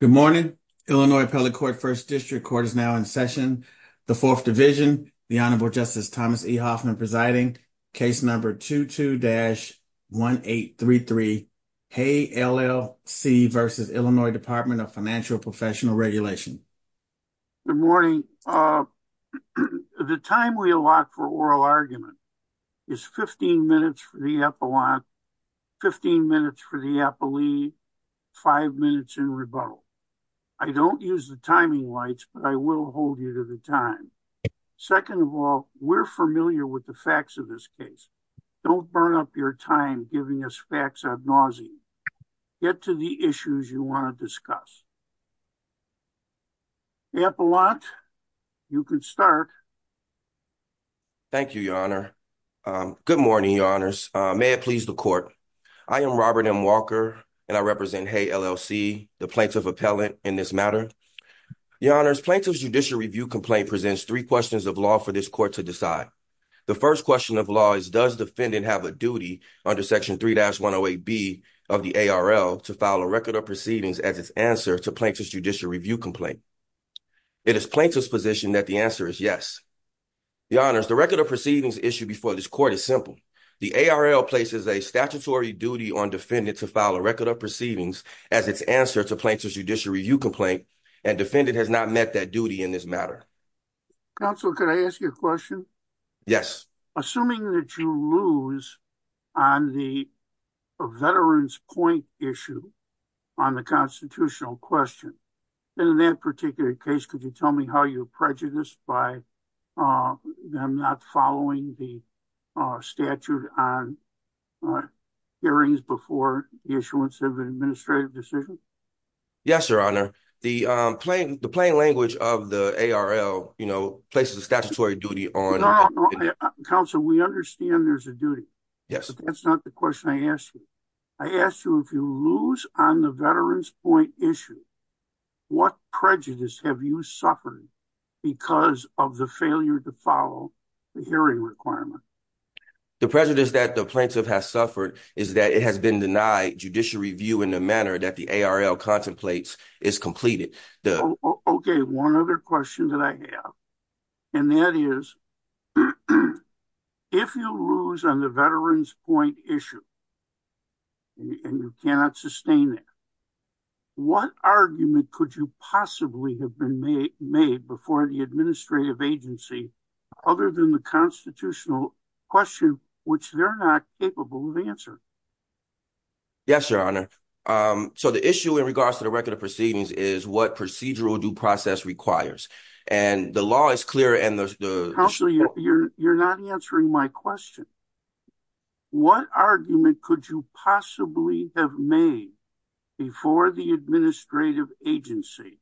Good morning. Illinois Appellate Court First District Court is now in session. The Fourth Division, the Honorable Justice Thomas E. Hoffman presiding, case number 22-1833, Haayy, LLC v. Illinois Department of Financial Professional Regulation. Good morning. The time we allot for oral argument is 15 minutes for the epilogue, 15 minutes for the appellee, five minutes in rebuttal. I don't use the timing lights, but I will hold you to the time. Second of all, we're familiar with the facts of this case. Don't burn up your time giving us facts ad nauseam. Get to the issues you want to discuss. Appellant, you can start. Thank you, Your Honor. Good morning, Your Honors. May it please the Court. I am Robert M. Walker, and I represent Haayy, LLC, the Plaintiff Appellant in this matter. Your Honors, Plaintiff's Judicial Review Complaint presents three questions of law for this Court to decide. The first question of law is, does defendant have a duty under Section 3-108B of the ARL to file a Record of Proceedings as its answer to Plaintiff's Judicial Review Complaint? It is Plaintiff's position that the answer is yes. Your Honors, the Record of Proceedings issue before this Court is simple. The ARL places a statutory duty on defendant to file a Record of Proceedings as its answer to Plaintiff's Judicial Review Complaint, and defendant has not met that duty in this matter. Counsel, could I ask you a question? Yes. Assuming that you lose on the point issue on the constitutional question, in that particular case, could you tell me how you're prejudiced by them not following the statute on hearings before the issuance of an administrative decision? Yes, Your Honor. The plain language of the ARL places a statutory duty on... Counsel, we understand there's a duty. Yes. That's not the question I asked you. I asked you if you lose on the veterans point issue, what prejudice have you suffered because of the failure to follow the hearing requirement? The prejudice that the plaintiff has suffered is that it has been denied Judicial Review in the manner that the ARL contemplates is completed. Okay, one other question that I have, and that is, if you lose on the veterans point issue and you cannot sustain it, what argument could you possibly have been made before the administrative agency other than the constitutional question, which they're not capable of answering? Yes, Your Honor. So, the issue in regards to the Record of Proceedings is what procedural due process requires, and the law is clear and... Counsel, you're not answering my question. What argument could you possibly have made before the administrative agency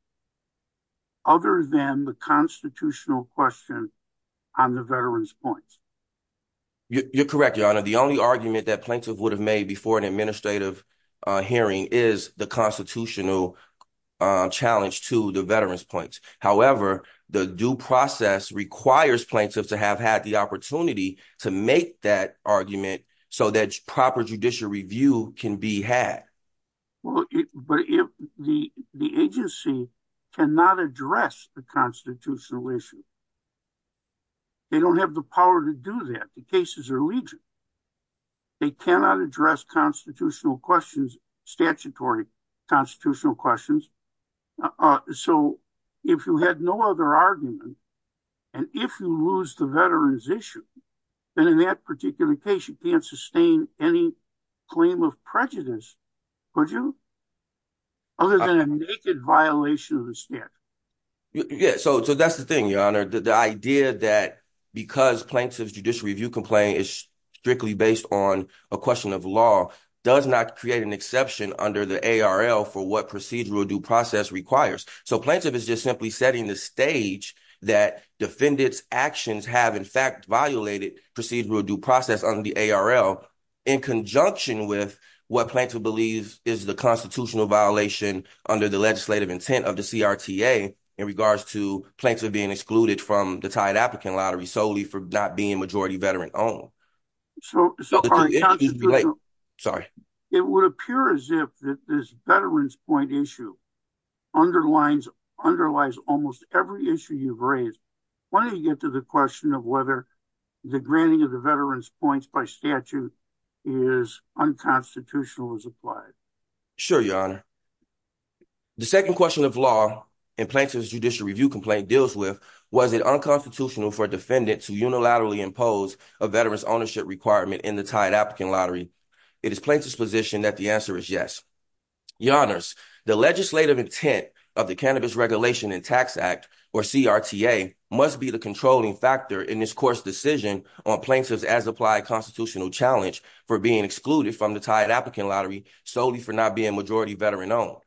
other than the constitutional question on the veterans point? You're correct, Your Honor. The only argument that plaintiff would have made before an administrative hearing is the constitutional challenge to the veterans points. However, the due process requires plaintiffs to have had the opportunity to make that argument so that proper Judicial Review can be had. Well, but if the agency cannot address the constitutional issue, they don't have the power to do that. The cases are legion. They cannot address constitutional questions, statutory constitutional questions. So, if you had no other argument, and if you lose the veterans issue, then in that particular case, you can't sustain any claim of prejudice, could you? Other than a naked violation of the statute. Yeah, so that's the thing, Your Honor. The idea that because plaintiff's Judicial Review complaint is strictly based on a question of law does not create an exception under the ARL for what procedural due process requires. So, plaintiff is just simply setting the stage that defendants' actions have in fact violated procedural due process under the ARL in conjunction with what plaintiff believes is the constitutional violation under the legislative intent of the CRTA in regards to plaintiff being excluded from the tied applicant lottery solely for not being majority veteran owned. So, it would appear as if this veterans point issue underlies almost every issue you've raised. Why don't you get to the question of whether the granting of the veterans points by statute is unconstitutional as applied? Sure, Your Honor. The second question of law in plaintiff's Judicial Review complaint deals with was it unconstitutional for a defendant to unilaterally impose a veterans ownership requirement in the tied applicant lottery? It is plaintiff's position that the answer is yes. Your Honors, the legislative intent of the Cannabis Regulation and Tax Act or CRTA must be the controlling factor in this court's decision on plaintiff's as applied constitutional challenge for being excluded from the tied applicant lottery solely for not being majority veteran owned.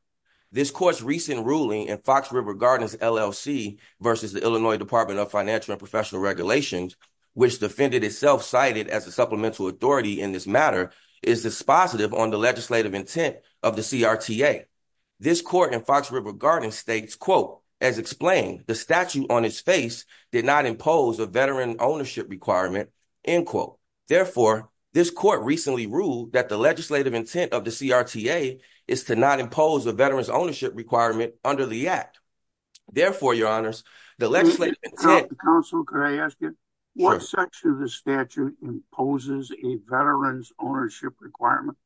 This court's recent ruling in Fox River Gardens LLC versus the Illinois Department of Financial and Professional Regulations, which defendant itself cited as a supplemental authority in this matter, is dispositive on the legislative intent of the CRTA. This court in Fox River Gardens states, quote, as explained, the statute on its face did not a veteran ownership requirement, end quote. Therefore, this court recently ruled that the legislative intent of the CRTA is to not impose a veterans ownership requirement under the act. Therefore, Your Honors, the legislative intent... Counsel, can I ask you, what section of the statute imposes a veterans ownership requirement?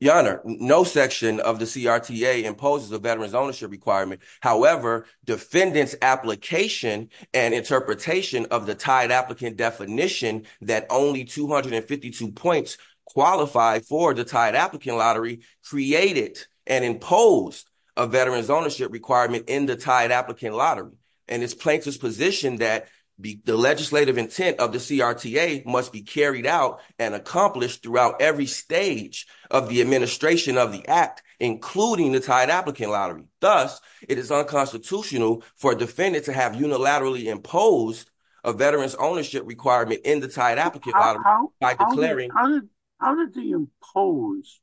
Your Honor, no section of the CRTA imposes a veterans ownership requirement. However, defendant's application and interpretation of the tied applicant definition that only 252 points qualify for the tied applicant lottery created and imposed a veterans ownership requirement in the tied applicant lottery. And it's plaintiff's position that the legislative intent of the CRTA must be carried out and accomplished throughout every stage of the administration of the act, including the tied applicant lottery. Thus, it is unconstitutional for a defendant to have unilaterally imposed a veterans ownership requirement in the tied applicant lottery by declaring... How did they impose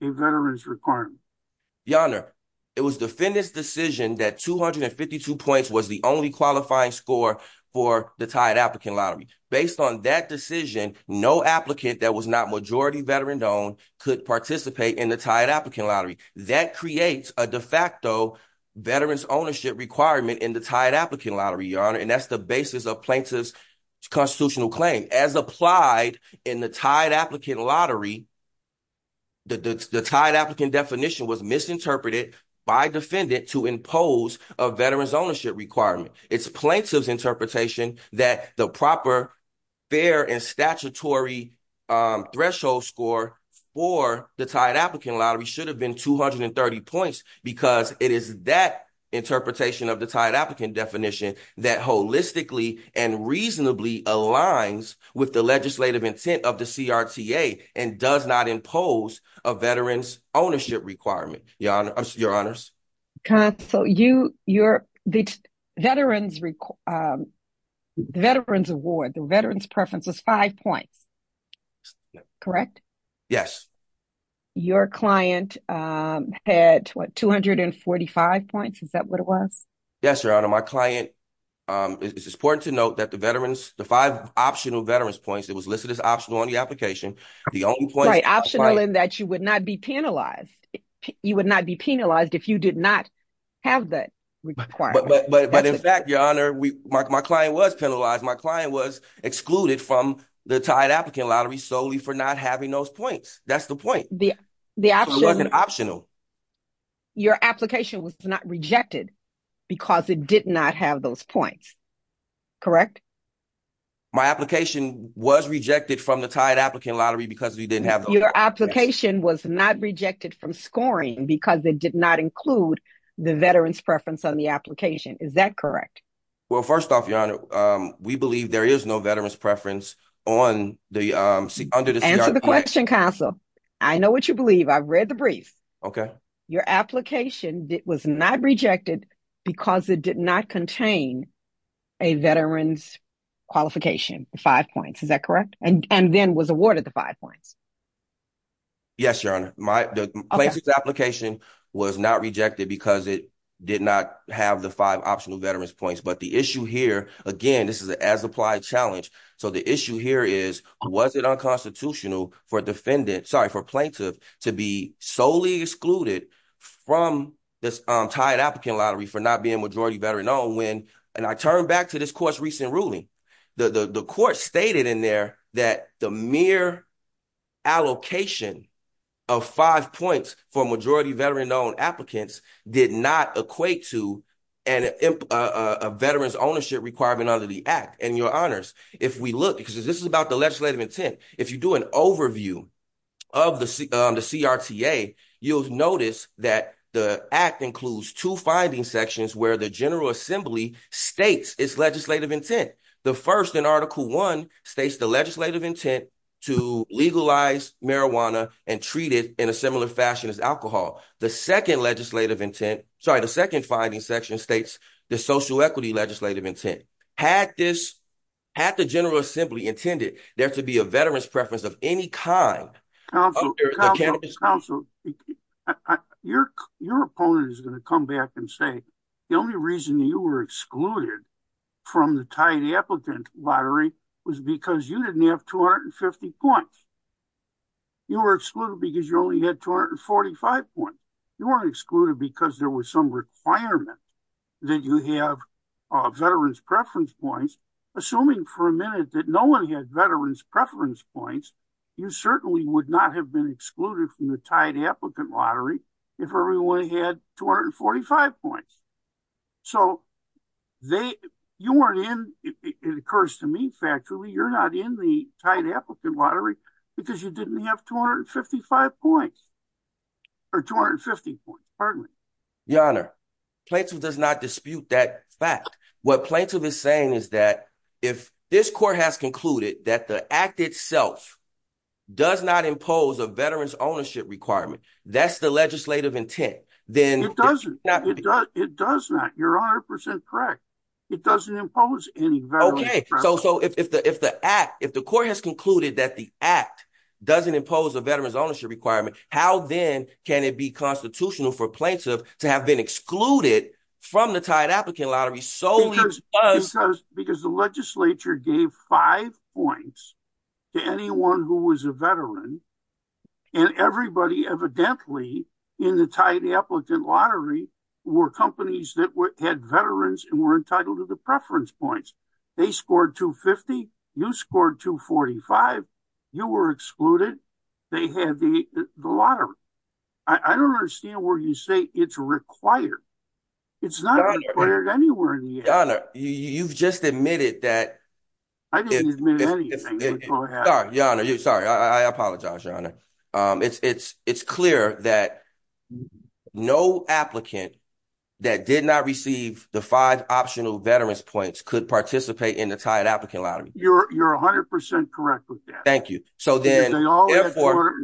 a veterans requirement? Your Honor, it was defendant's decision that 252 points was the only qualifying score for the tied applicant lottery. Based on that decision, no applicant that was not majority veteran-owned could participate in the tied applicant lottery. That creates a de facto veterans ownership requirement in the tied applicant lottery, Your Honor, and that's the basis of plaintiff's constitutional claim. As applied in the tied applicant lottery, the tied applicant definition was misinterpreted by defendant to impose a veterans ownership requirement. It's plaintiff's interpretation that the proper, fair, and statutory threshold score for the tied applicant lottery should have been 230 points because it is that interpretation of the tied applicant definition that holistically and reasonably aligns with the legislative intent of the CRTA and does not impose a veterans ownership requirement, Your Honors. Counsel, the veterans award, the veterans preference was five points, correct? Yes. Your client had, what, 245 points? Is that what it was? Yes, Your Honor. My client, it's important to note that the veterans, the five optional veterans points that was listed as optional on the application, the only point... Right, optional in that you would not be penalized. You would not be penalized if you did not have that requirement. But in fact, Your Honor, my client was penalized. My client was excluded from the tied applicant lottery solely for not having those points. That's the point. The option... It wasn't optional. Your application was not rejected because it did not have those points, correct? My application was rejected from the tied applicant lottery because we didn't have... Your application was not rejected from scoring because it did not include the veterans preference on the application. Is that correct? Well, first off, Your Honor, we believe there is no veterans preference on the... Under the CRT... Answer the question, Counsel. I know what you believe. I've read the brief. Okay. Your application was not rejected because it did not contain a veterans qualification, five points. Is that correct? And then was awarded the five points. Yes, Your Honor. The plaintiff's application was not rejected because it did not have the five optional veterans points. But the issue here, again, this is an as-applied challenge. So the issue here is, was it unconstitutional for defendant... Sorry, for plaintiff to be solely excluded from this tied applicant lottery for not being majority veteran when... And I turn back to this court's recent ruling. The court stated in there that the mere allocation of five points for majority veteran known applicants did not equate to a veterans ownership requirement under the act. And Your Honors, if we look, because this is about the legislative intent, if you do an overview of the CRTA, you'll notice that the act includes two finding sections where the General Assembly states its legislative intent. The first in Article One states the legislative intent to legalize marijuana and treat it in a similar fashion as alcohol. The second legislative intent... Sorry, the second finding section states the social equity legislative intent. Had this... Had the General Assembly intended there to be a veterans preference of any kind... Counselor, your opponent is going to come back and say, the only reason you were excluded from the tied applicant lottery was because you didn't have 250 points. You were excluded because you only had 245 points. You weren't excluded because there was some requirement that you have veterans preference points, assuming for a minute that no one had veterans preference points, you certainly would not have been excluded from the tied applicant lottery if everyone had 245 points. So they... You weren't in... It occurs to me factually, you're not in the tied applicant lottery because you didn't have 255 points or 250 points. Pardon me. Your Honor, Plaintiff does not dispute that fact. What Plaintiff is saying is that if this court has concluded that the act itself does not impose a veterans ownership requirement, that's the legislative intent, then... It doesn't. It does not. You're 100% correct. It doesn't impose any veterans... Okay, so if the act... If the court has concluded that the act doesn't impose a veterans ownership requirement, how then can it be constitutional for Plaintiff to have excluded from the tied applicant lottery solely because... Because the legislature gave five points to anyone who was a veteran and everybody evidently in the tied applicant lottery were companies that had veterans and were entitled to the preference points. They scored 250. You It's not required anywhere in the act. Your Honor, you've just admitted that... I didn't admit anything. Go ahead. Your Honor, sorry. I apologize, Your Honor. It's clear that no applicant that did not receive the five optional veterans points could participate in the tied applicant lottery. You're 100% correct with that. Thank you. So then therefore...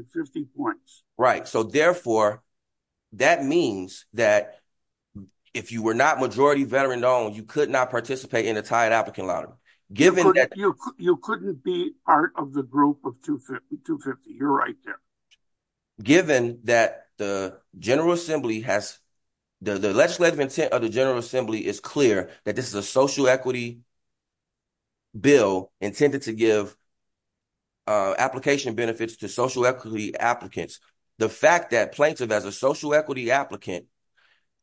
If you were not majority veteran owned, you could not participate in a tied applicant lottery, given that... You couldn't be part of the group of 250. You're right there. Given that the General Assembly has... The legislative intent of the General Assembly is clear that this is a social equity bill intended to give application benefits to social equity applicants. The fact that Plaintiff, as a social equity applicant,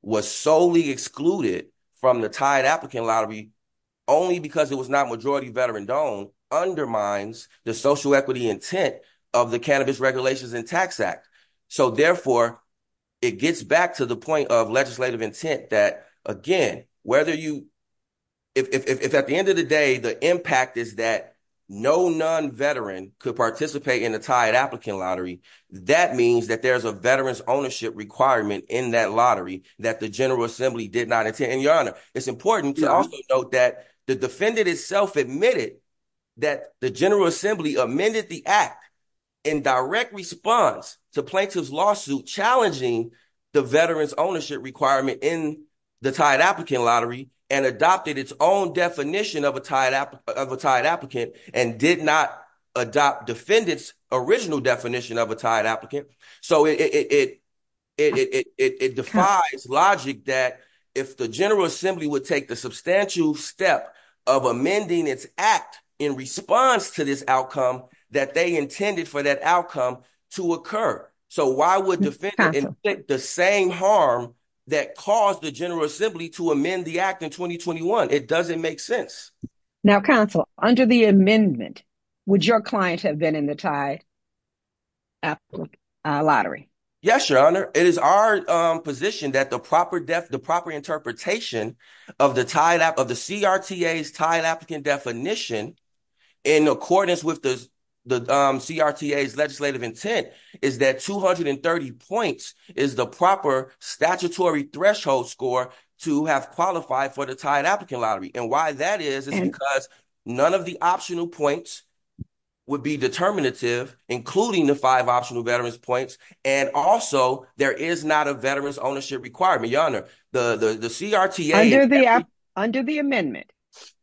was solely excluded from the tied applicant lottery only because it was not majority veteran owned undermines the social equity intent of the Cannabis Regulations and Tax Act. So therefore, it gets back to the point of legislative intent that, again, whether you... If at the end of the day, the impact is that no non-veteran could participate in a tied applicant lottery, that means that there's a veterans ownership requirement in that lottery that the General Assembly did not attend. And, Your Honor, it's important to also note that the defendant itself admitted that the General Assembly amended the act in direct response to Plaintiff's lawsuit challenging the veterans ownership requirement in the tied applicant lottery and adopted its own definition of a tied applicant and did not adopt defendant's original definition of a tied applicant. So it defies logic that if the General Assembly would take the substantial step of amending its act in response to this outcome that they intended for that outcome to occur. So why would the same harm that caused the General Assembly to amend the act in 2021? It doesn't make sense. Now, Counsel, under the amendment, would your client have been in the tied applicant lottery? Yes, Your Honor. It is our position that the proper interpretation of the CRTA's tied applicant definition in accordance with the CRTA's legislative intent is that 230 points is the statutory threshold score to have qualified for the tied applicant lottery. And why that is, is because none of the optional points would be determinative, including the five optional veterans points. And also, there is not a veterans ownership requirement, Your Honor. Under the amendment,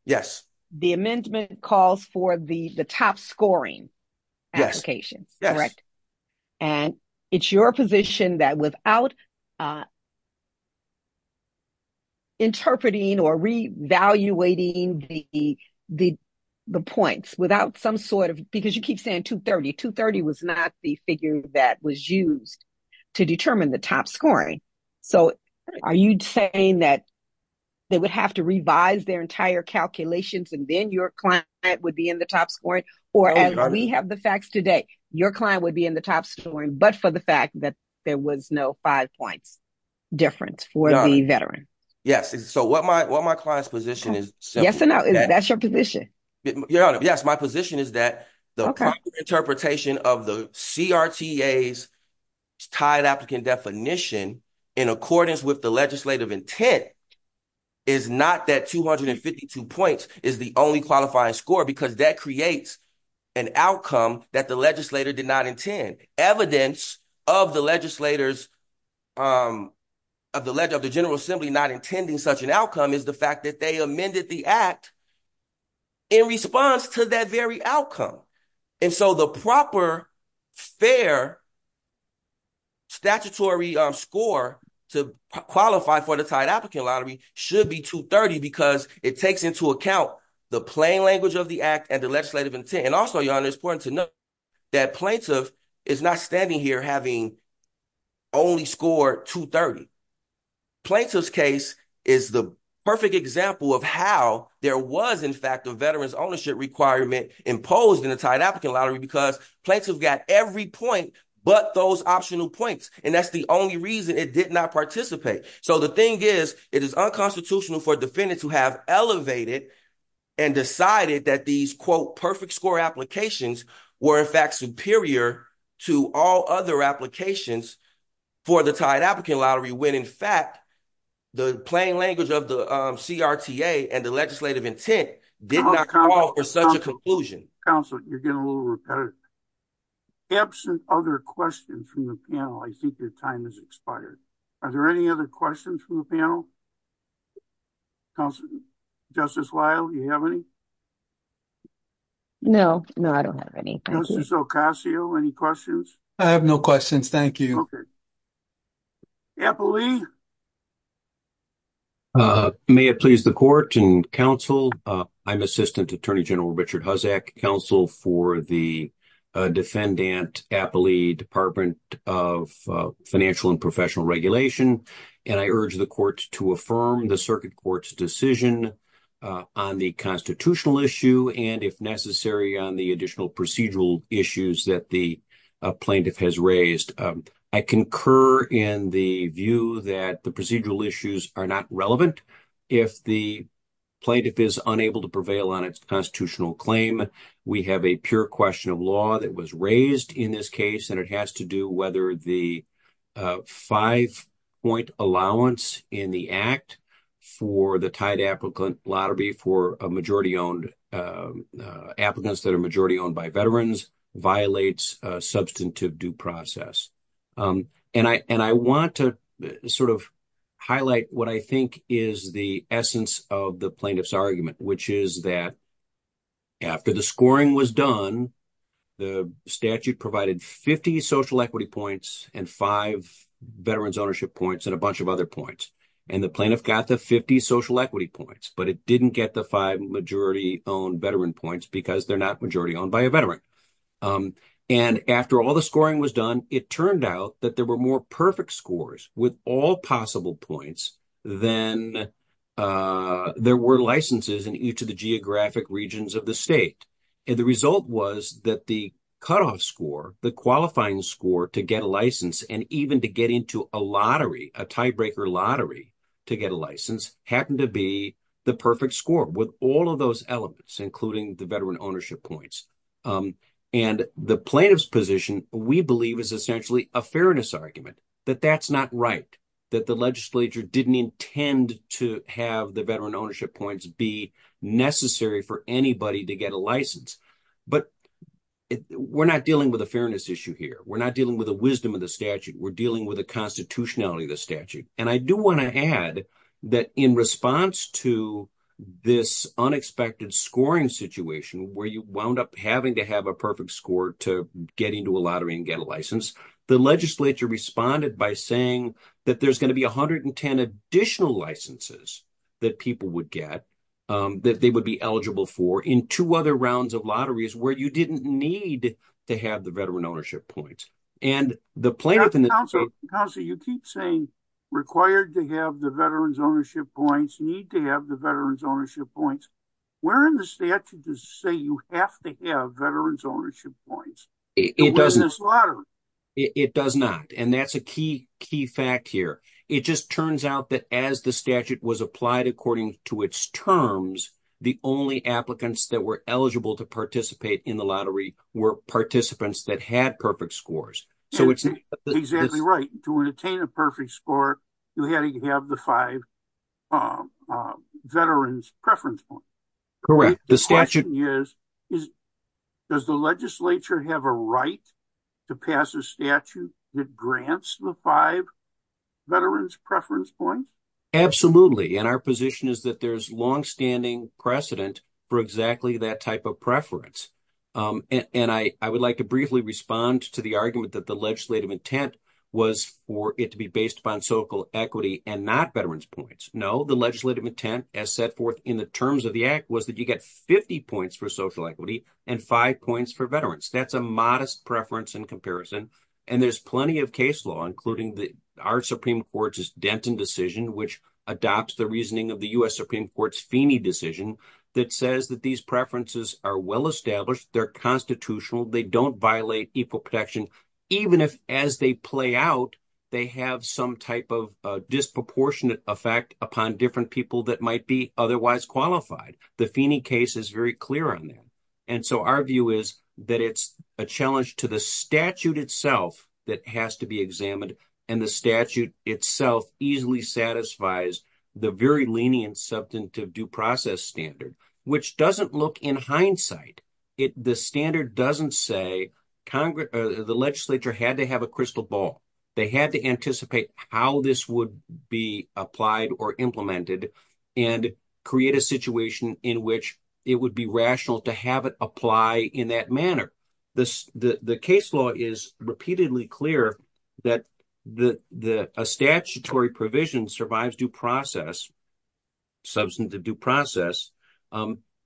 the amendment calls for the top scoring applications. And it's your position that without interpreting or re-evaluating the points, without some sort of, because you keep saying 230, 230 was not the figure that was used to determine the top scoring. So are you saying that they would have to revise their entire calculations and then your client would be in the top scoring? Or as we have the facts today, your client would be in the top scoring, but for there was no five points difference for the veteran. Yes. So what my client's position is. That's your position. Your Honor, yes. My position is that the proper interpretation of the CRTA's tied applicant definition in accordance with the legislative intent is not that 252 points is the only qualifying score because that creates an outcome that the legislator did not intend. Evidence of the legislators, of the general assembly not intending such an outcome is the fact that they amended the act in response to that very outcome. And so the proper fair statutory score to qualify for the tied applicant lottery should be 230 because it takes into account the plain language of the act and the legislative intent. And also, Your Honor, it's important to know that plaintiff is not standing here having only scored 230. Plaintiff's case is the perfect example of how there was, in fact, a veteran's ownership requirement imposed in a tied applicant lottery because plaintiff got every point but those optional points. And that's the only reason it did not participate. So the thing is, it is unconstitutional for defendants who have elevated and decided that these, quote, perfect score applications were, in fact, superior to all other applications for the tied applicant lottery when, in fact, the plain language of the CRTA and the legislative intent did not call for such a conclusion. Counselor, you're getting a little repetitive. Absent other questions from the panel, I think your time has expired. Are there any other questions from the panel? Justice Weill, do you have any? No. No, I don't have any. Justice Ocasio, any questions? I have no questions. Thank you. Okay. Appley? May it please the court and counsel, I'm Assistant Attorney General Richard Huzzack, counsel for the Defendant Appley Department of Financial and Professional Regulation, and I urge the court to affirm the circuit court's decision on the constitutional issue, and if necessary, on the additional procedural issues that the plaintiff has raised. I concur in the view that the procedural issues are not relevant. If the plaintiff is unable to prevail on its constitutional claim, we have a pure question of law that was raised in this case, and it has to do whether the five-point allowance in the act for the tied applicant lottery for applicants that are majority owned by veterans violates substantive due process. And I want to sort of highlight what I think is the essence of the plaintiff's argument, which is that after the scoring was done, the statute provided 50 social equity points and five veterans ownership points and a bunch of other points, and the plaintiff got the 50 social equity points, but it didn't get the five majority-owned veteran points because they're not majority owned by a veteran. And after all the scoring was done, it turned out that there were more perfect scores with all possible points than there were licenses in each of the geographic regions of the state. And the result was that the cutoff score, the qualifying score to get a license, and even to get into a lottery, a tiebreaker lottery to get a license, happened to be the perfect score with all of those elements, including the veteran ownership points. And the plaintiff's position, we believe, is essentially a fairness argument, that that's not right, that the legislature didn't intend to have the veteran ownership points be necessary for anybody to get a license. But we're not dealing with a fairness issue here. We're not dealing with the wisdom of the statute. We're dealing with the constitutionality of the statute. And I do want to add that in response to this unexpected scoring situation where you wound up having to have a score to get into a lottery and get a license, the legislature responded by saying that there's going to be 110 additional licenses that people would get, that they would be eligible for, in two other rounds of lotteries where you didn't need to have the veteran ownership points. And the plaintiff- Counselor, you keep saying required to have the veterans ownership points, need to have the ownership points. Where in the statute does it say you have to have veterans ownership points? In this lottery? It does not. And that's a key fact here. It just turns out that as the statute was applied according to its terms, the only applicants that were eligible to participate in the lottery were participants that had perfect scores. So it's- Exactly right. To attain a perfect score, you had to have the five veterans preference points. Correct. The statute- Does the legislature have a right to pass a statute that grants the five veterans preference points? Absolutely. And our position is that there's longstanding precedent for exactly that type of preference. And I would like to briefly respond to the argument that the legislative intent was for it to be based upon social equity and not veterans points. No, the legislative intent as set forth in the terms of the act was that you get 50 points for social equity and five points for veterans. That's a modest preference in comparison. And there's plenty of case law, including our Supreme Court's Denton decision, which adopts the reasoning of the U.S. Supreme Court's Feeney decision that says that these preferences are well established, they're constitutional, they don't violate equal protection, even if as they play out, they have some type of disproportionate effect upon different people that might be otherwise qualified. The Feeney case is very clear on that. And so our view is that it's a challenge to the statute itself that has to be examined. And the statute itself easily satisfies the very lenient substantive due process standard, which doesn't look in hindsight. The standard doesn't say the legislature had to have a crystal ball. They had to anticipate how this would be applied or implemented and create a situation in which it would be rational to have it apply in that manner. The case law is repeatedly clear that a statutory provision survives due process, substantive due process,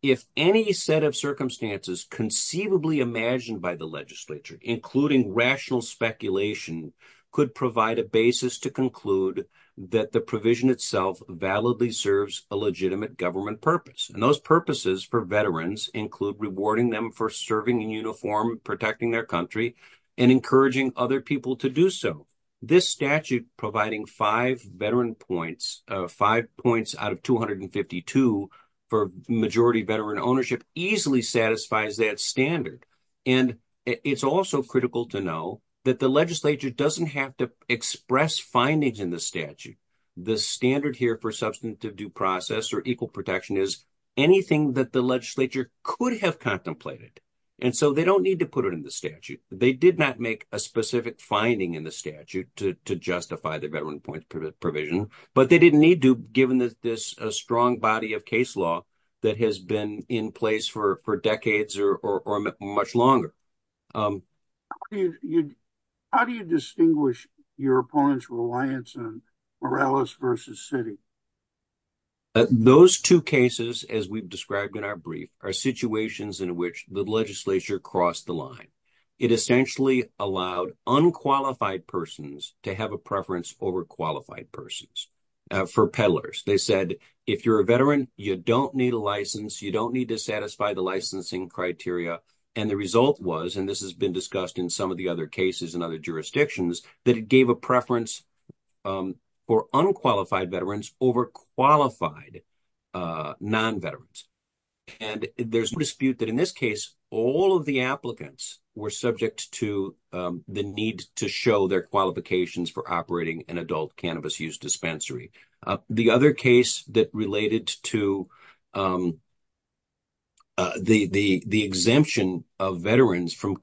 if any set of circumstances conceivably imagined by the legislature, including rational speculation, could provide a basis to conclude that the provision itself validly serves a legitimate government purpose. And those purposes for veterans include rewarding them for serving in uniform, protecting their country, and encouraging other people to do so. This statute providing five veteran points, five points out of 252 for majority veteran ownership, easily satisfies that standard. And it's also critical to know that the legislature doesn't have to express findings in the statute. The standard here for substantive due process or equal protection is anything that the legislature could have contemplated. And so they don't need to put it in the statute. They did not make a specific finding in the statute to justify the veteran points provision, but they didn't need to given this strong body of case law that has been in place for decades or much longer. How do you distinguish your opponent's reliance on Morales versus City? Those two cases, as we've described in our brief, are situations in which the legislature crossed the line. It essentially allowed unqualified persons to have a preference over qualified persons. For peddlers, they said, if you're a veteran, you don't need a license, you don't need to satisfy the licensing criteria. And the result was, and this has been discussed in some of the other cases and other jurisdictions, that it gave a preference for unqualified veterans over qualified non-veterans. And there's a dispute that in this case, all of the applicants were subject to the need to show their qualifications for operating an adult cannabis use dispensary. The other case that related to the exemption of veterans from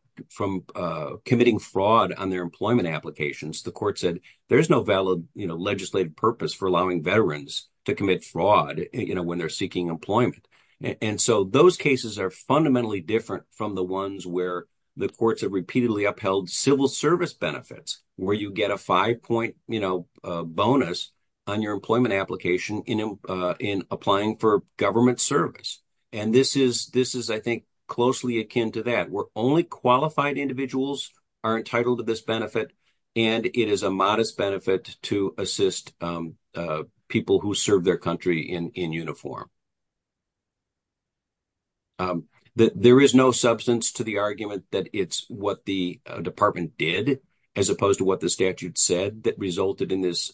committing fraud on their employment applications, the court said, there's no valid legislative purpose for allowing veterans to commit fraud when they're seeking employment. And so those cases are fundamentally different from the ones where the courts have repeatedly upheld civil service benefits, where you get a five-point bonus on your employment application in applying for government service. And this is, I think, closely akin to that, where only qualified individuals are entitled to this benefit, and it is a modest benefit to assist people who serve their country in uniform. There is no substance to the argument that it's what the department did, as opposed to what the department said, that resulted in this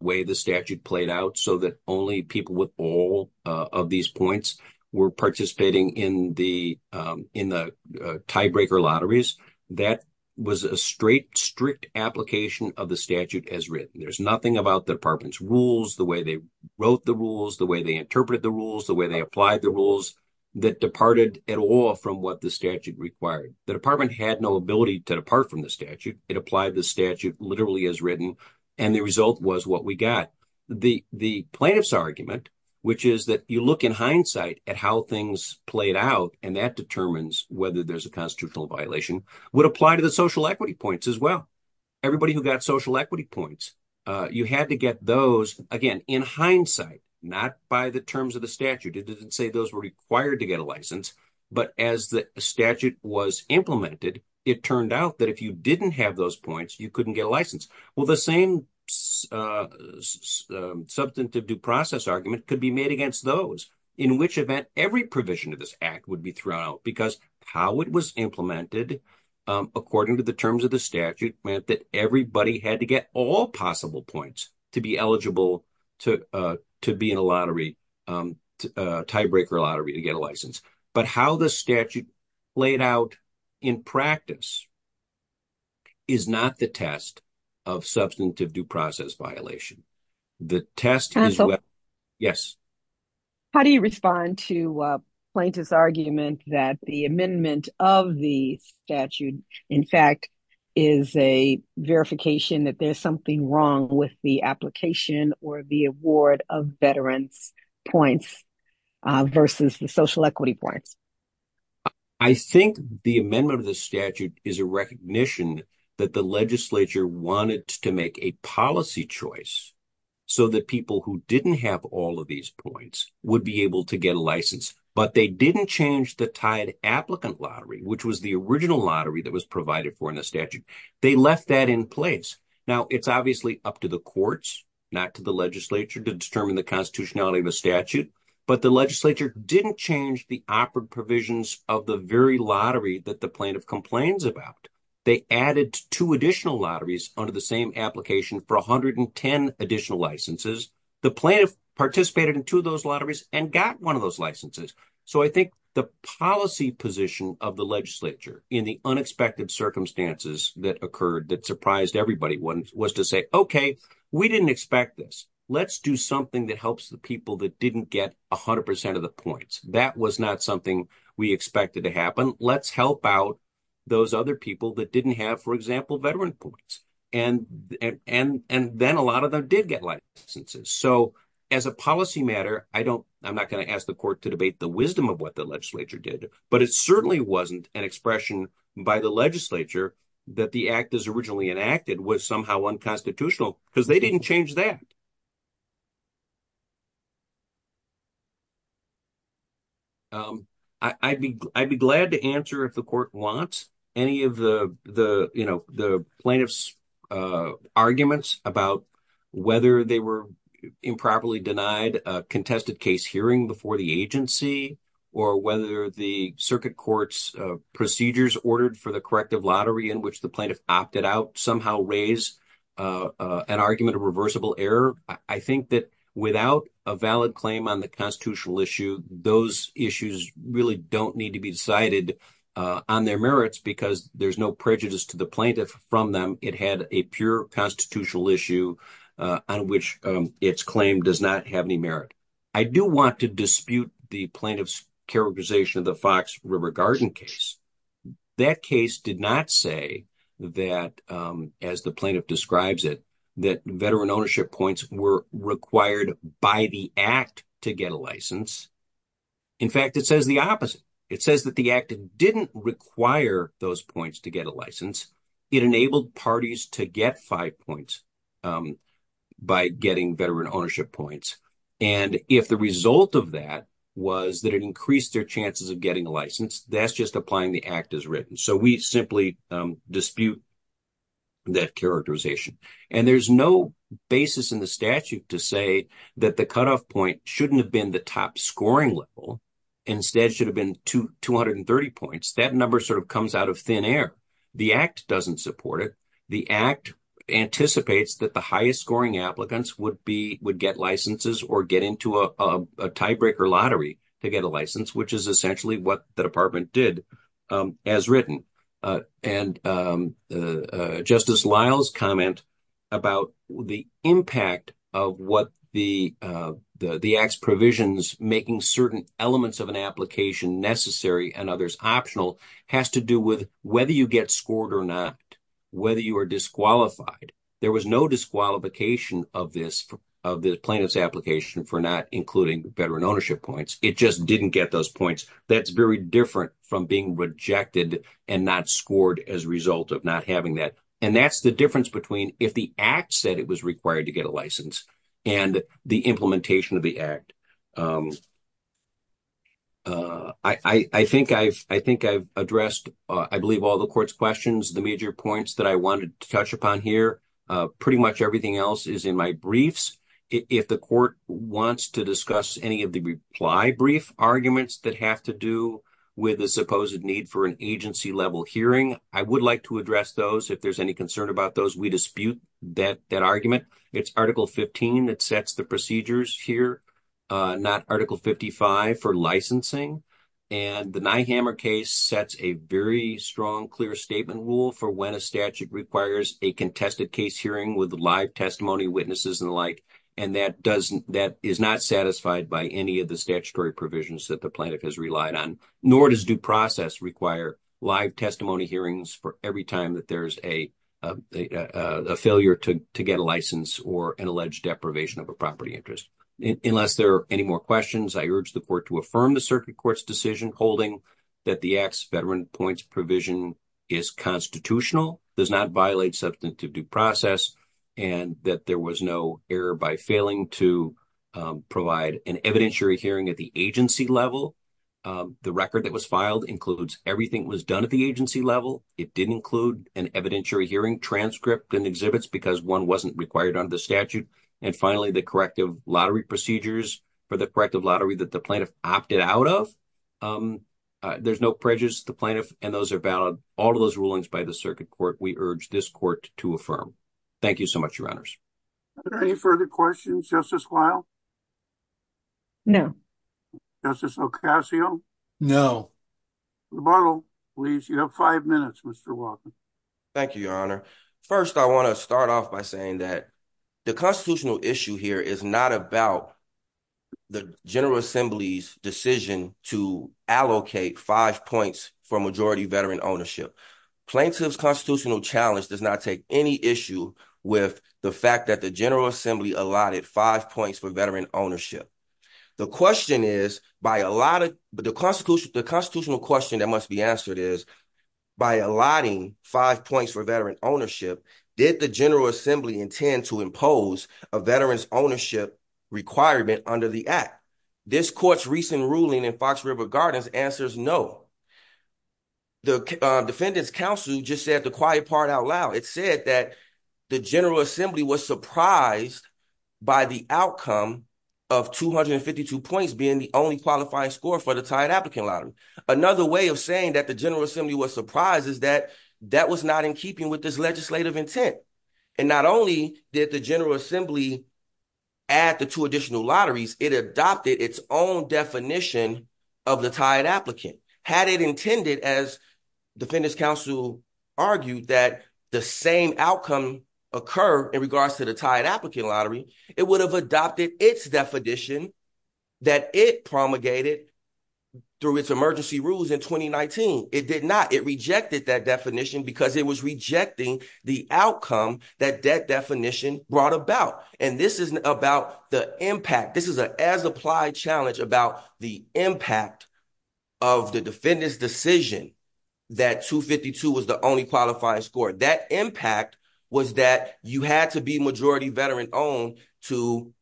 way the statute played out, so that only people with all of these points were participating in the tiebreaker lotteries. That was a straight, strict application of the statute as written. There's nothing about the department's rules, the way they wrote the rules, the way they interpreted the rules, the way they applied the rules, that departed at all from what the statute required. The department had no ability to depart from the statute. It applied the statute literally as written, and the result was what we got. The plaintiff's argument, which is that you look in hindsight at how things played out, and that determines whether there's a constitutional violation, would apply to the social equity points as well. Everybody who got social equity points, you had to get those, again, in hindsight, not by the terms of the statute. It didn't say those were required to get a license, but as the statute was implemented, it turned out that if you didn't have those points, you couldn't get a license. Well, the same substantive due process argument could be made against those, in which event every provision of this act would be thrown out, because how it was implemented, according to the terms of the statute, meant that everybody had to get all possible points to be eligible to be in a lottery, tiebreaker lottery, to get a license. But how the statute laid out in practice is not the test of substantive due process violation. The test is... Yes. How do you respond to a plaintiff's argument that the amendment of the statute, in fact, is a verification that there's something wrong with the application or the award of veterans points versus the social equity points? I think the amendment of the statute is a recognition that the legislature wanted to make a policy choice so that people who didn't have all of these points would be able to get a license, but they didn't change the tied applicant lottery, which was the original lottery that was provided for in the statute. They left that in place. Now, it's obviously up to the courts, not to the legislature, to determine the constitutionality of the statute, but the legislature didn't change the operant provisions of the very lottery that the plaintiff complains about. They added two additional lotteries under the same application for 110 additional licenses. The plaintiff participated in two of those lotteries and got one of those licenses. So I think the policy position of the legislature in the unexpected circumstances that occurred that surprised everybody was to say, okay, we didn't expect this. Let's do something that helps the people that didn't get 100% of the points. That was not something we expected to happen. Let's help out those other people that didn't have, for example, veteran points. And then a lot of them did get licenses. So as a policy matter, I'm not going to ask the court to debate the wisdom of what the legislature did, but it certainly wasn't an expression by the legislature that the act as originally enacted was somehow unconstitutional because they didn't change that. I'd be glad to answer if the court wants any of the plaintiff's arguments about whether they were improperly denied a contested case hearing before the agency or whether the circuit court's procedures ordered for the corrective lottery in which the plaintiff opted out somehow raised an argument of reversible error. I think that without a valid claim on the constitutional issue, those issues really don't need to be decided on their merits because there's no prejudice to the plaintiff from them. It had a pure constitutional issue on which its claim does not have any merit. I do want to dispute the plaintiff's characterization of the Fox River Garden case. That case did not say that, as the plaintiff describes it, that veteran ownership points were required by the act to get a license. In fact, it says the opposite. It says that the act didn't require those points to get a license. It enabled parties to get five points by getting veteran ownership points. And if the result of that was that it increased their chances of getting a license, that's just applying the act as written. So we simply dispute that characterization. And there's no basis in the statute to say that the point shouldn't have been the top scoring level. Instead, it should have been 230 points. That number sort of comes out of thin air. The act doesn't support it. The act anticipates that the highest scoring applicants would get licenses or get into a tiebreaker lottery to get a license, which is essentially what the department did as written. And Justice Lyle's comment about the impact of what the act's provisions making certain elements of an application necessary and others optional has to do with whether you get scored or not, whether you are disqualified. There was no disqualification of this plaintiff's application for not including veteran ownership points. It just didn't get those points. That's very different from being rejected and not scored as a result of not having that. And that's the difference between if the act said it was required to get a license and the implementation of the act. I think I've addressed, I believe, all the court's questions. The major points that I wanted to touch upon here, pretty much everything else is in my briefs. If the court wants to discuss any of the reply brief arguments that have to do with the supposed need for an agency level hearing, I would like to address those. If there's any concern about those, we dispute that argument. It's Article 15 that sets the procedures here, not Article 55 for licensing. And the Nyhammer case sets a very strong, clear statement rule for when a statute requires a tested case hearing with live testimony, witnesses, and the like. And that is not satisfied by any of the statutory provisions that the plaintiff has relied on, nor does due process require live testimony hearings for every time that there's a failure to get a license or an alleged deprivation of a property interest. Unless there are any more questions, I urge the court to affirm the circuit court's decision holding that the act's veteran points provision is constitutional, does not violate substantive due process, and that there was no error by failing to provide an evidentiary hearing at the agency level. The record that was filed includes everything was done at the agency level. It didn't include an evidentiary hearing transcript and exhibits because one wasn't required under the statute. And finally, the corrective lottery procedures for the corrective lottery that the plaintiff opted out of. There's no prejudice the plaintiff and those are valid. All of those rulings by the circuit court, we urge this court to affirm. Thank you so much, your honors. Are there any further questions, Justice Weill? No. Justice Ocasio? No. Rebuttal, please. You have five minutes, Mr. Walker. Thank you, your honor. First, I want to start off by saying that the constitutional issue here is not about the General Assembly's decision to allocate five points for majority veteran ownership. Plaintiff's constitutional challenge does not take any issue with the fact that the General Assembly allotted five points for veteran ownership. The constitutional question that must be answered is, by allotting five points for veteran ownership, did the General Assembly intend to impose a veteran's ownership requirement under the act? This court's recent ruling in Fox River Gardens answers no. The defendant's counsel just said the quiet part out loud. It said that the General Assembly was surprised by the outcome of 252 points being the only qualifying score for the tied applicant lottery. Another way of saying that the General Assembly was surprised is that that was not in keeping with this legislative intent. And not only did the General Assembly add the two additional lotteries, it adopted its own definition of the tied applicant. Had it intended, as defendant's counsel argued, that the same outcome occur in regards to the tied applicant lottery, it would have adopted its definition that it promulgated through its emergency rules in 2019. It did not. It rejected that definition because it was rejecting the outcome that that definition brought about. And this isn't about the impact. This is an as-applied challenge about the impact of the defendant's decision that 252 was the only qualifying score. That impact was that you had to be majority veteran owned to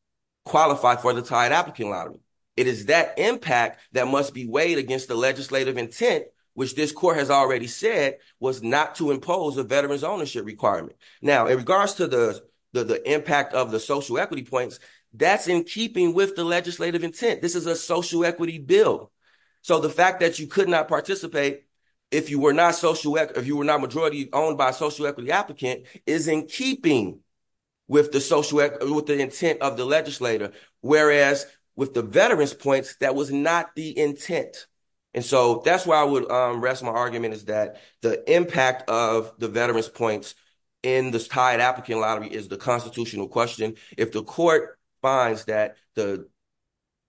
qualify for the tied applicant lottery. It is that impact that must be weighed against the legislative intent, which this court has already said was not to impose a veterans ownership requirement. Now, in regards to the impact of the social equity points, that's in keeping with the legislative intent. This is a social equity bill. So the fact that you could not participate if you were not majority owned by a social equity applicant is in keeping with the intent of the legislator. Whereas with the veterans points, that was not the intent. And so that's why I would rest my argument is that the impact of the veterans points in this tied applicant lottery is the constitutional question. If the court finds that the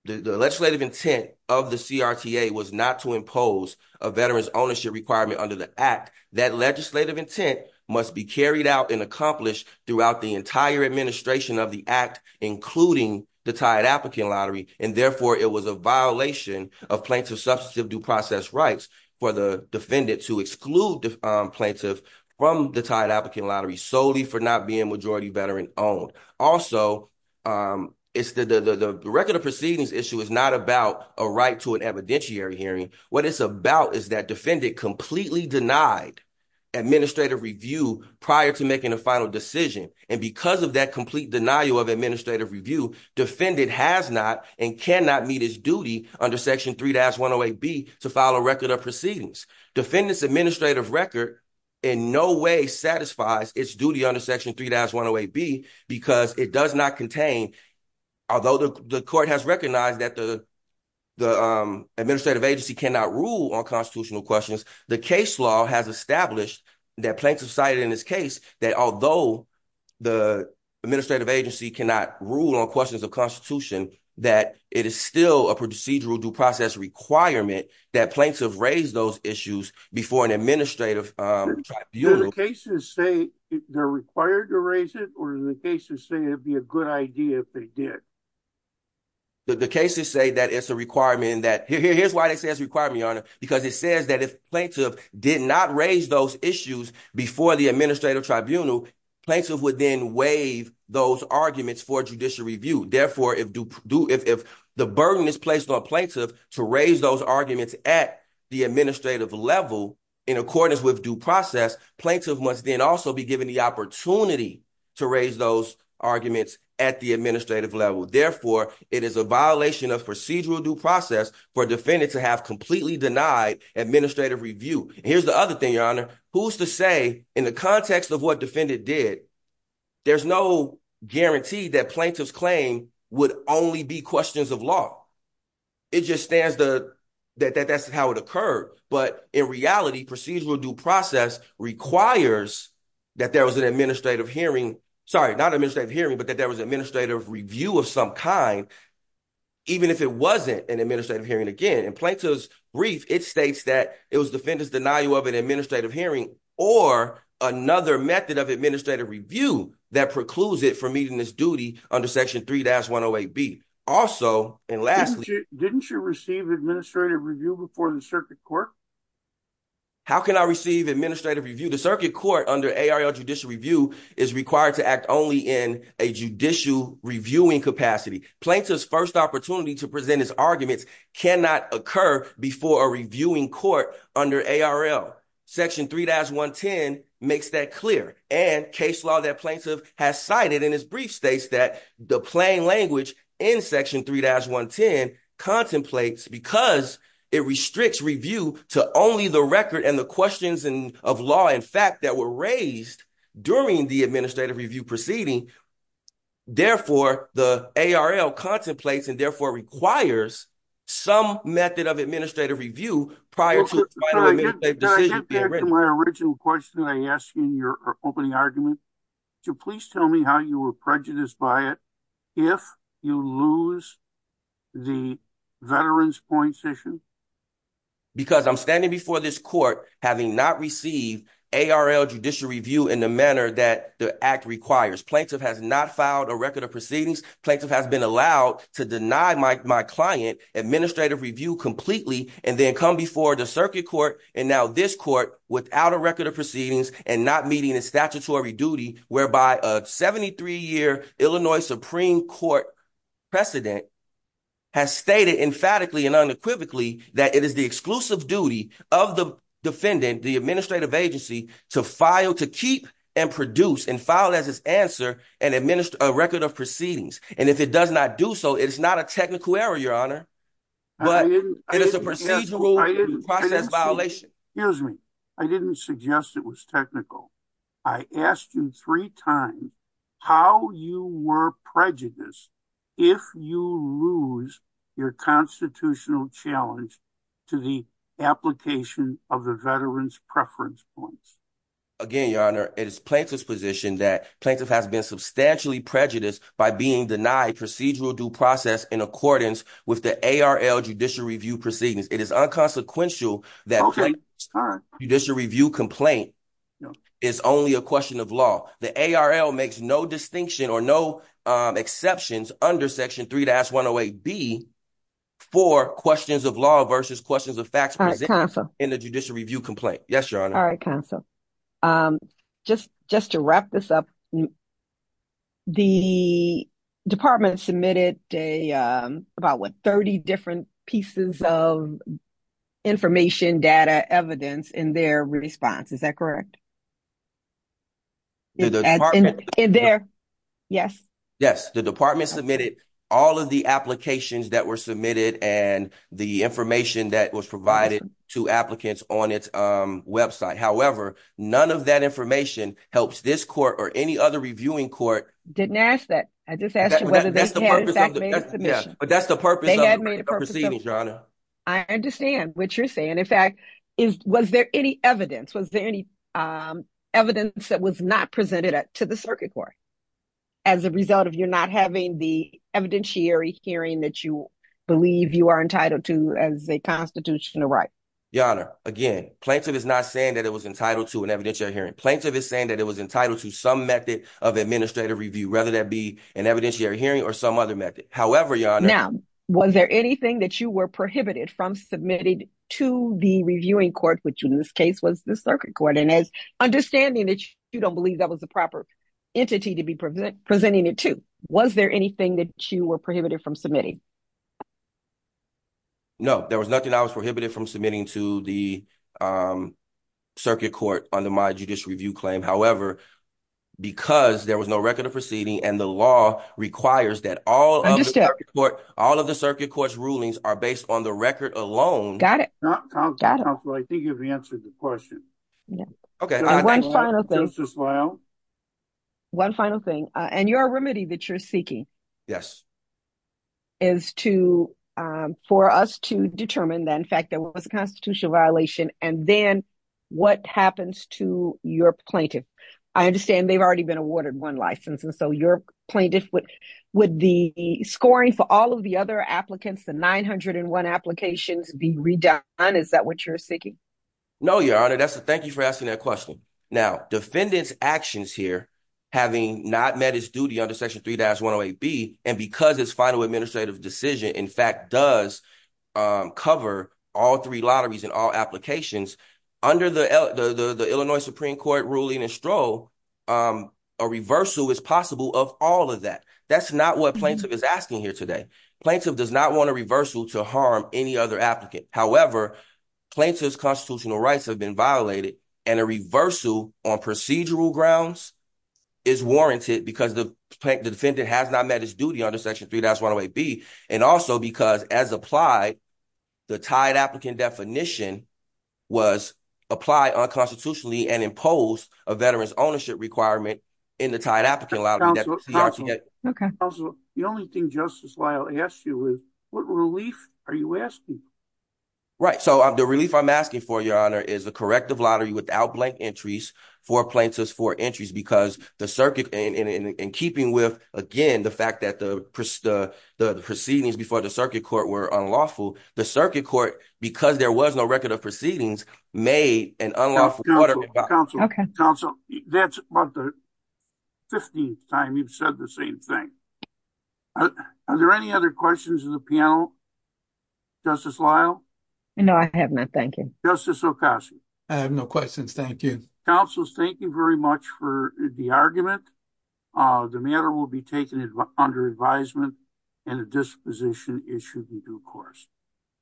legislative intent of the CRTA was not to impose a veterans ownership requirement under the act, that legislative intent must be carried out and accomplished throughout the entire administration of the act, including the tied applicant lottery. And therefore, it was a violation of plaintiff's substantive due process rights for the defendant to exclude the plaintiff from the tied applicant lottery solely for not being majority veteran owned. Also, it's the record of proceedings issue is not about a right to an evidentiary hearing. What it's about is that defendant completely denied administrative review prior to making a final decision. And because of that complete denial of administrative review, defendant has not and cannot meet his duty under section 3-108B to file a record of proceedings. Defendant's administrative record in no way satisfies its duty under section 3-108B because it does not contain, although the court has recognized that the administrative agency cannot rule on constitutional questions, the case law has established that plaintiff cited in this case that although the administrative agency cannot rule on questions of constitution, that it is still a procedural due process requirement that plaintiff raise those issues before an administrative tribunal. Do the cases say they're required to raise it or do the cases say it'd be a good idea if they did? The cases say that it's a requirement that, here's why they say it's a requirement, because it says that if plaintiff did not raise those issues before the administrative tribunal, plaintiff would then waive those arguments for judicial review. Therefore, if the burden is placed on plaintiff to raise those arguments at the administrative level in accordance with due process, plaintiff must then also be given the opportunity to raise those arguments at the administrative level. Therefore, it is a violation of procedural due process for defendant to have completely denied administrative review. Here's the other thing, Your Honor, who's to say in the context of what defendant did, there's no guarantee that plaintiff's claim would only be questions of law. It just stands that that's how it occurred. But in reality, procedural due process requires that there was an administrative hearing, sorry, not administrative hearing, but that there was an administrative hearing. Again, in Plaintiff's brief, it states that it was defendant's denial of an administrative hearing or another method of administrative review that precludes it from meeting this duty under section 3-108B. Also, and lastly, didn't you receive administrative review before the circuit court? How can I receive administrative review? The circuit court under ARL judicial review is required to act only in a judicial reviewing capacity. Plaintiff's first opportunity to present his arguments cannot occur before a reviewing court under ARL. Section 3-110 makes that clear. And case law that plaintiff has cited in his brief states that the plain language in section 3-110 contemplates because it restricts review to only the record and the questions of law and fact that were raised during the administrative review proceeding. Therefore, the ARL contemplates and therefore requires some method of administrative review prior to the decision being written. I get back to my original question I asked in your opening argument. Could you please tell me how you were prejudiced by it if you lose the veterans' point session? Because I'm standing before this court having not received ARL judicial review in the manner that the act requires. Plaintiff has not filed a record of proceedings. Plaintiff has been allowed to deny my client administrative review completely and then come before the circuit court and now this court without a record of proceedings and not meeting a statutory duty whereby a 73-year Illinois Supreme Court precedent has stated emphatically and unequivocally that it is the exclusive duty of the defendant, the administrative agency, to file, to keep, and produce and file as his answer and administer a record of proceedings. And if it does not do so, it's not a technical error, your honor, but it is a procedural process violation. Here's me. I didn't suggest it was technical. I asked you three times how you were prejudiced if you lose your constitutional challenge to the application of the veterans' preference points. Again, your honor, it is plaintiff's position that plaintiff has been substantially prejudiced by being denied procedural due process in accordance with the ARL judicial review proceedings. It is unconsequential that judicial review complaint is only a question of law. The ARL makes no distinction or no exceptions under section 3-108b for questions of law versus questions of facts in the judicial review complaint. Yes, your honor. All right, counsel. Just to wrap this up, the department submitted about, what, 30 different pieces of information, data, evidence in their response. Is that correct? Yes. Yes. The department submitted all of the applications that were submitted and the information that was provided to applicants on its website. However, none of that information helps this court or any other reviewing court. I didn't ask that. I just asked you whether they had in fact made a submission. But that's the purpose of the proceedings, your honor. I understand what you're saying. In fact, was there any evidence? Was there any evidence that was not presented to the circuit court as a result of you not having the evidentiary hearing that you believe you are entitled to as a constitutional right? Your honor, again, plaintiff is not saying that it was entitled to an evidentiary hearing. Plaintiff is saying that it was entitled to some method of administrative review, whether that be an evidentiary hearing or some other method. However, your honor. Now, was there anything that you were prohibited from submitting to the reviewing court, which in this case was the circuit court? And as understanding that you don't believe that was the proper entity to be presenting it to, was there anything that you were prohibited from submitting? No, there was nothing I was prohibited from submitting to the circuit court under my judicial review claim. However, because there was no record of all of the circuit court, all of the circuit court's rulings are based on the record alone. One final thing and your remedy that you're seeking is for us to determine that, in fact, there was a constitutional violation. And then what happens to your plaintiff? I understand they've already been awarded one license. And so your plaintiff, would the scoring for all of the other applicants, the 901 applications be redone? Is that what you're seeking? No, your honor. Thank you for asking that question. Now, defendant's actions here, having not met his duty under section 3-108B, and because it's final administrative decision, in fact, does cover all three lotteries in all applications, under the Illinois Supreme Court ruling in Stroh, a reversal is possible of all of that. That's not what plaintiff is asking here today. Plaintiff does not want a reversal to harm any other applicant. However, plaintiff's constitutional rights have been violated and a reversal on procedural grounds is warranted because the defendant has not met his duty under section 3-108B. And also because as applied, the tied applicant definition was applied unconstitutionally and imposed a veteran's ownership requirement in the tied applicant lottery. The only thing Justice Lyle asked you was what relief are you asking? Right. So the relief I'm asking for, your honor, is a corrective lottery without blank entries for plaintiff's four entries because the circuit, in keeping with, again, the fact that the proceedings before the circuit court were unlawful, the circuit court, because there was no record of proceedings, made an unlawful lottery. Counsel, that's about the 15th time you've said the same thing. Are there any other questions of the panel, Justice Lyle? No, I have not. Thank you. Justice Ocasio? I have no questions. Thank you. Counsel, thank you very much for the argument. The matter will be taken under advisement and a disposition issued in due course.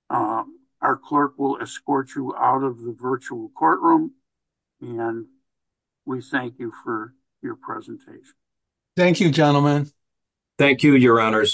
Our clerk will escort you out of the virtual courtroom and we thank you for your presentation. Thank you, gentlemen. Thank you, your honors.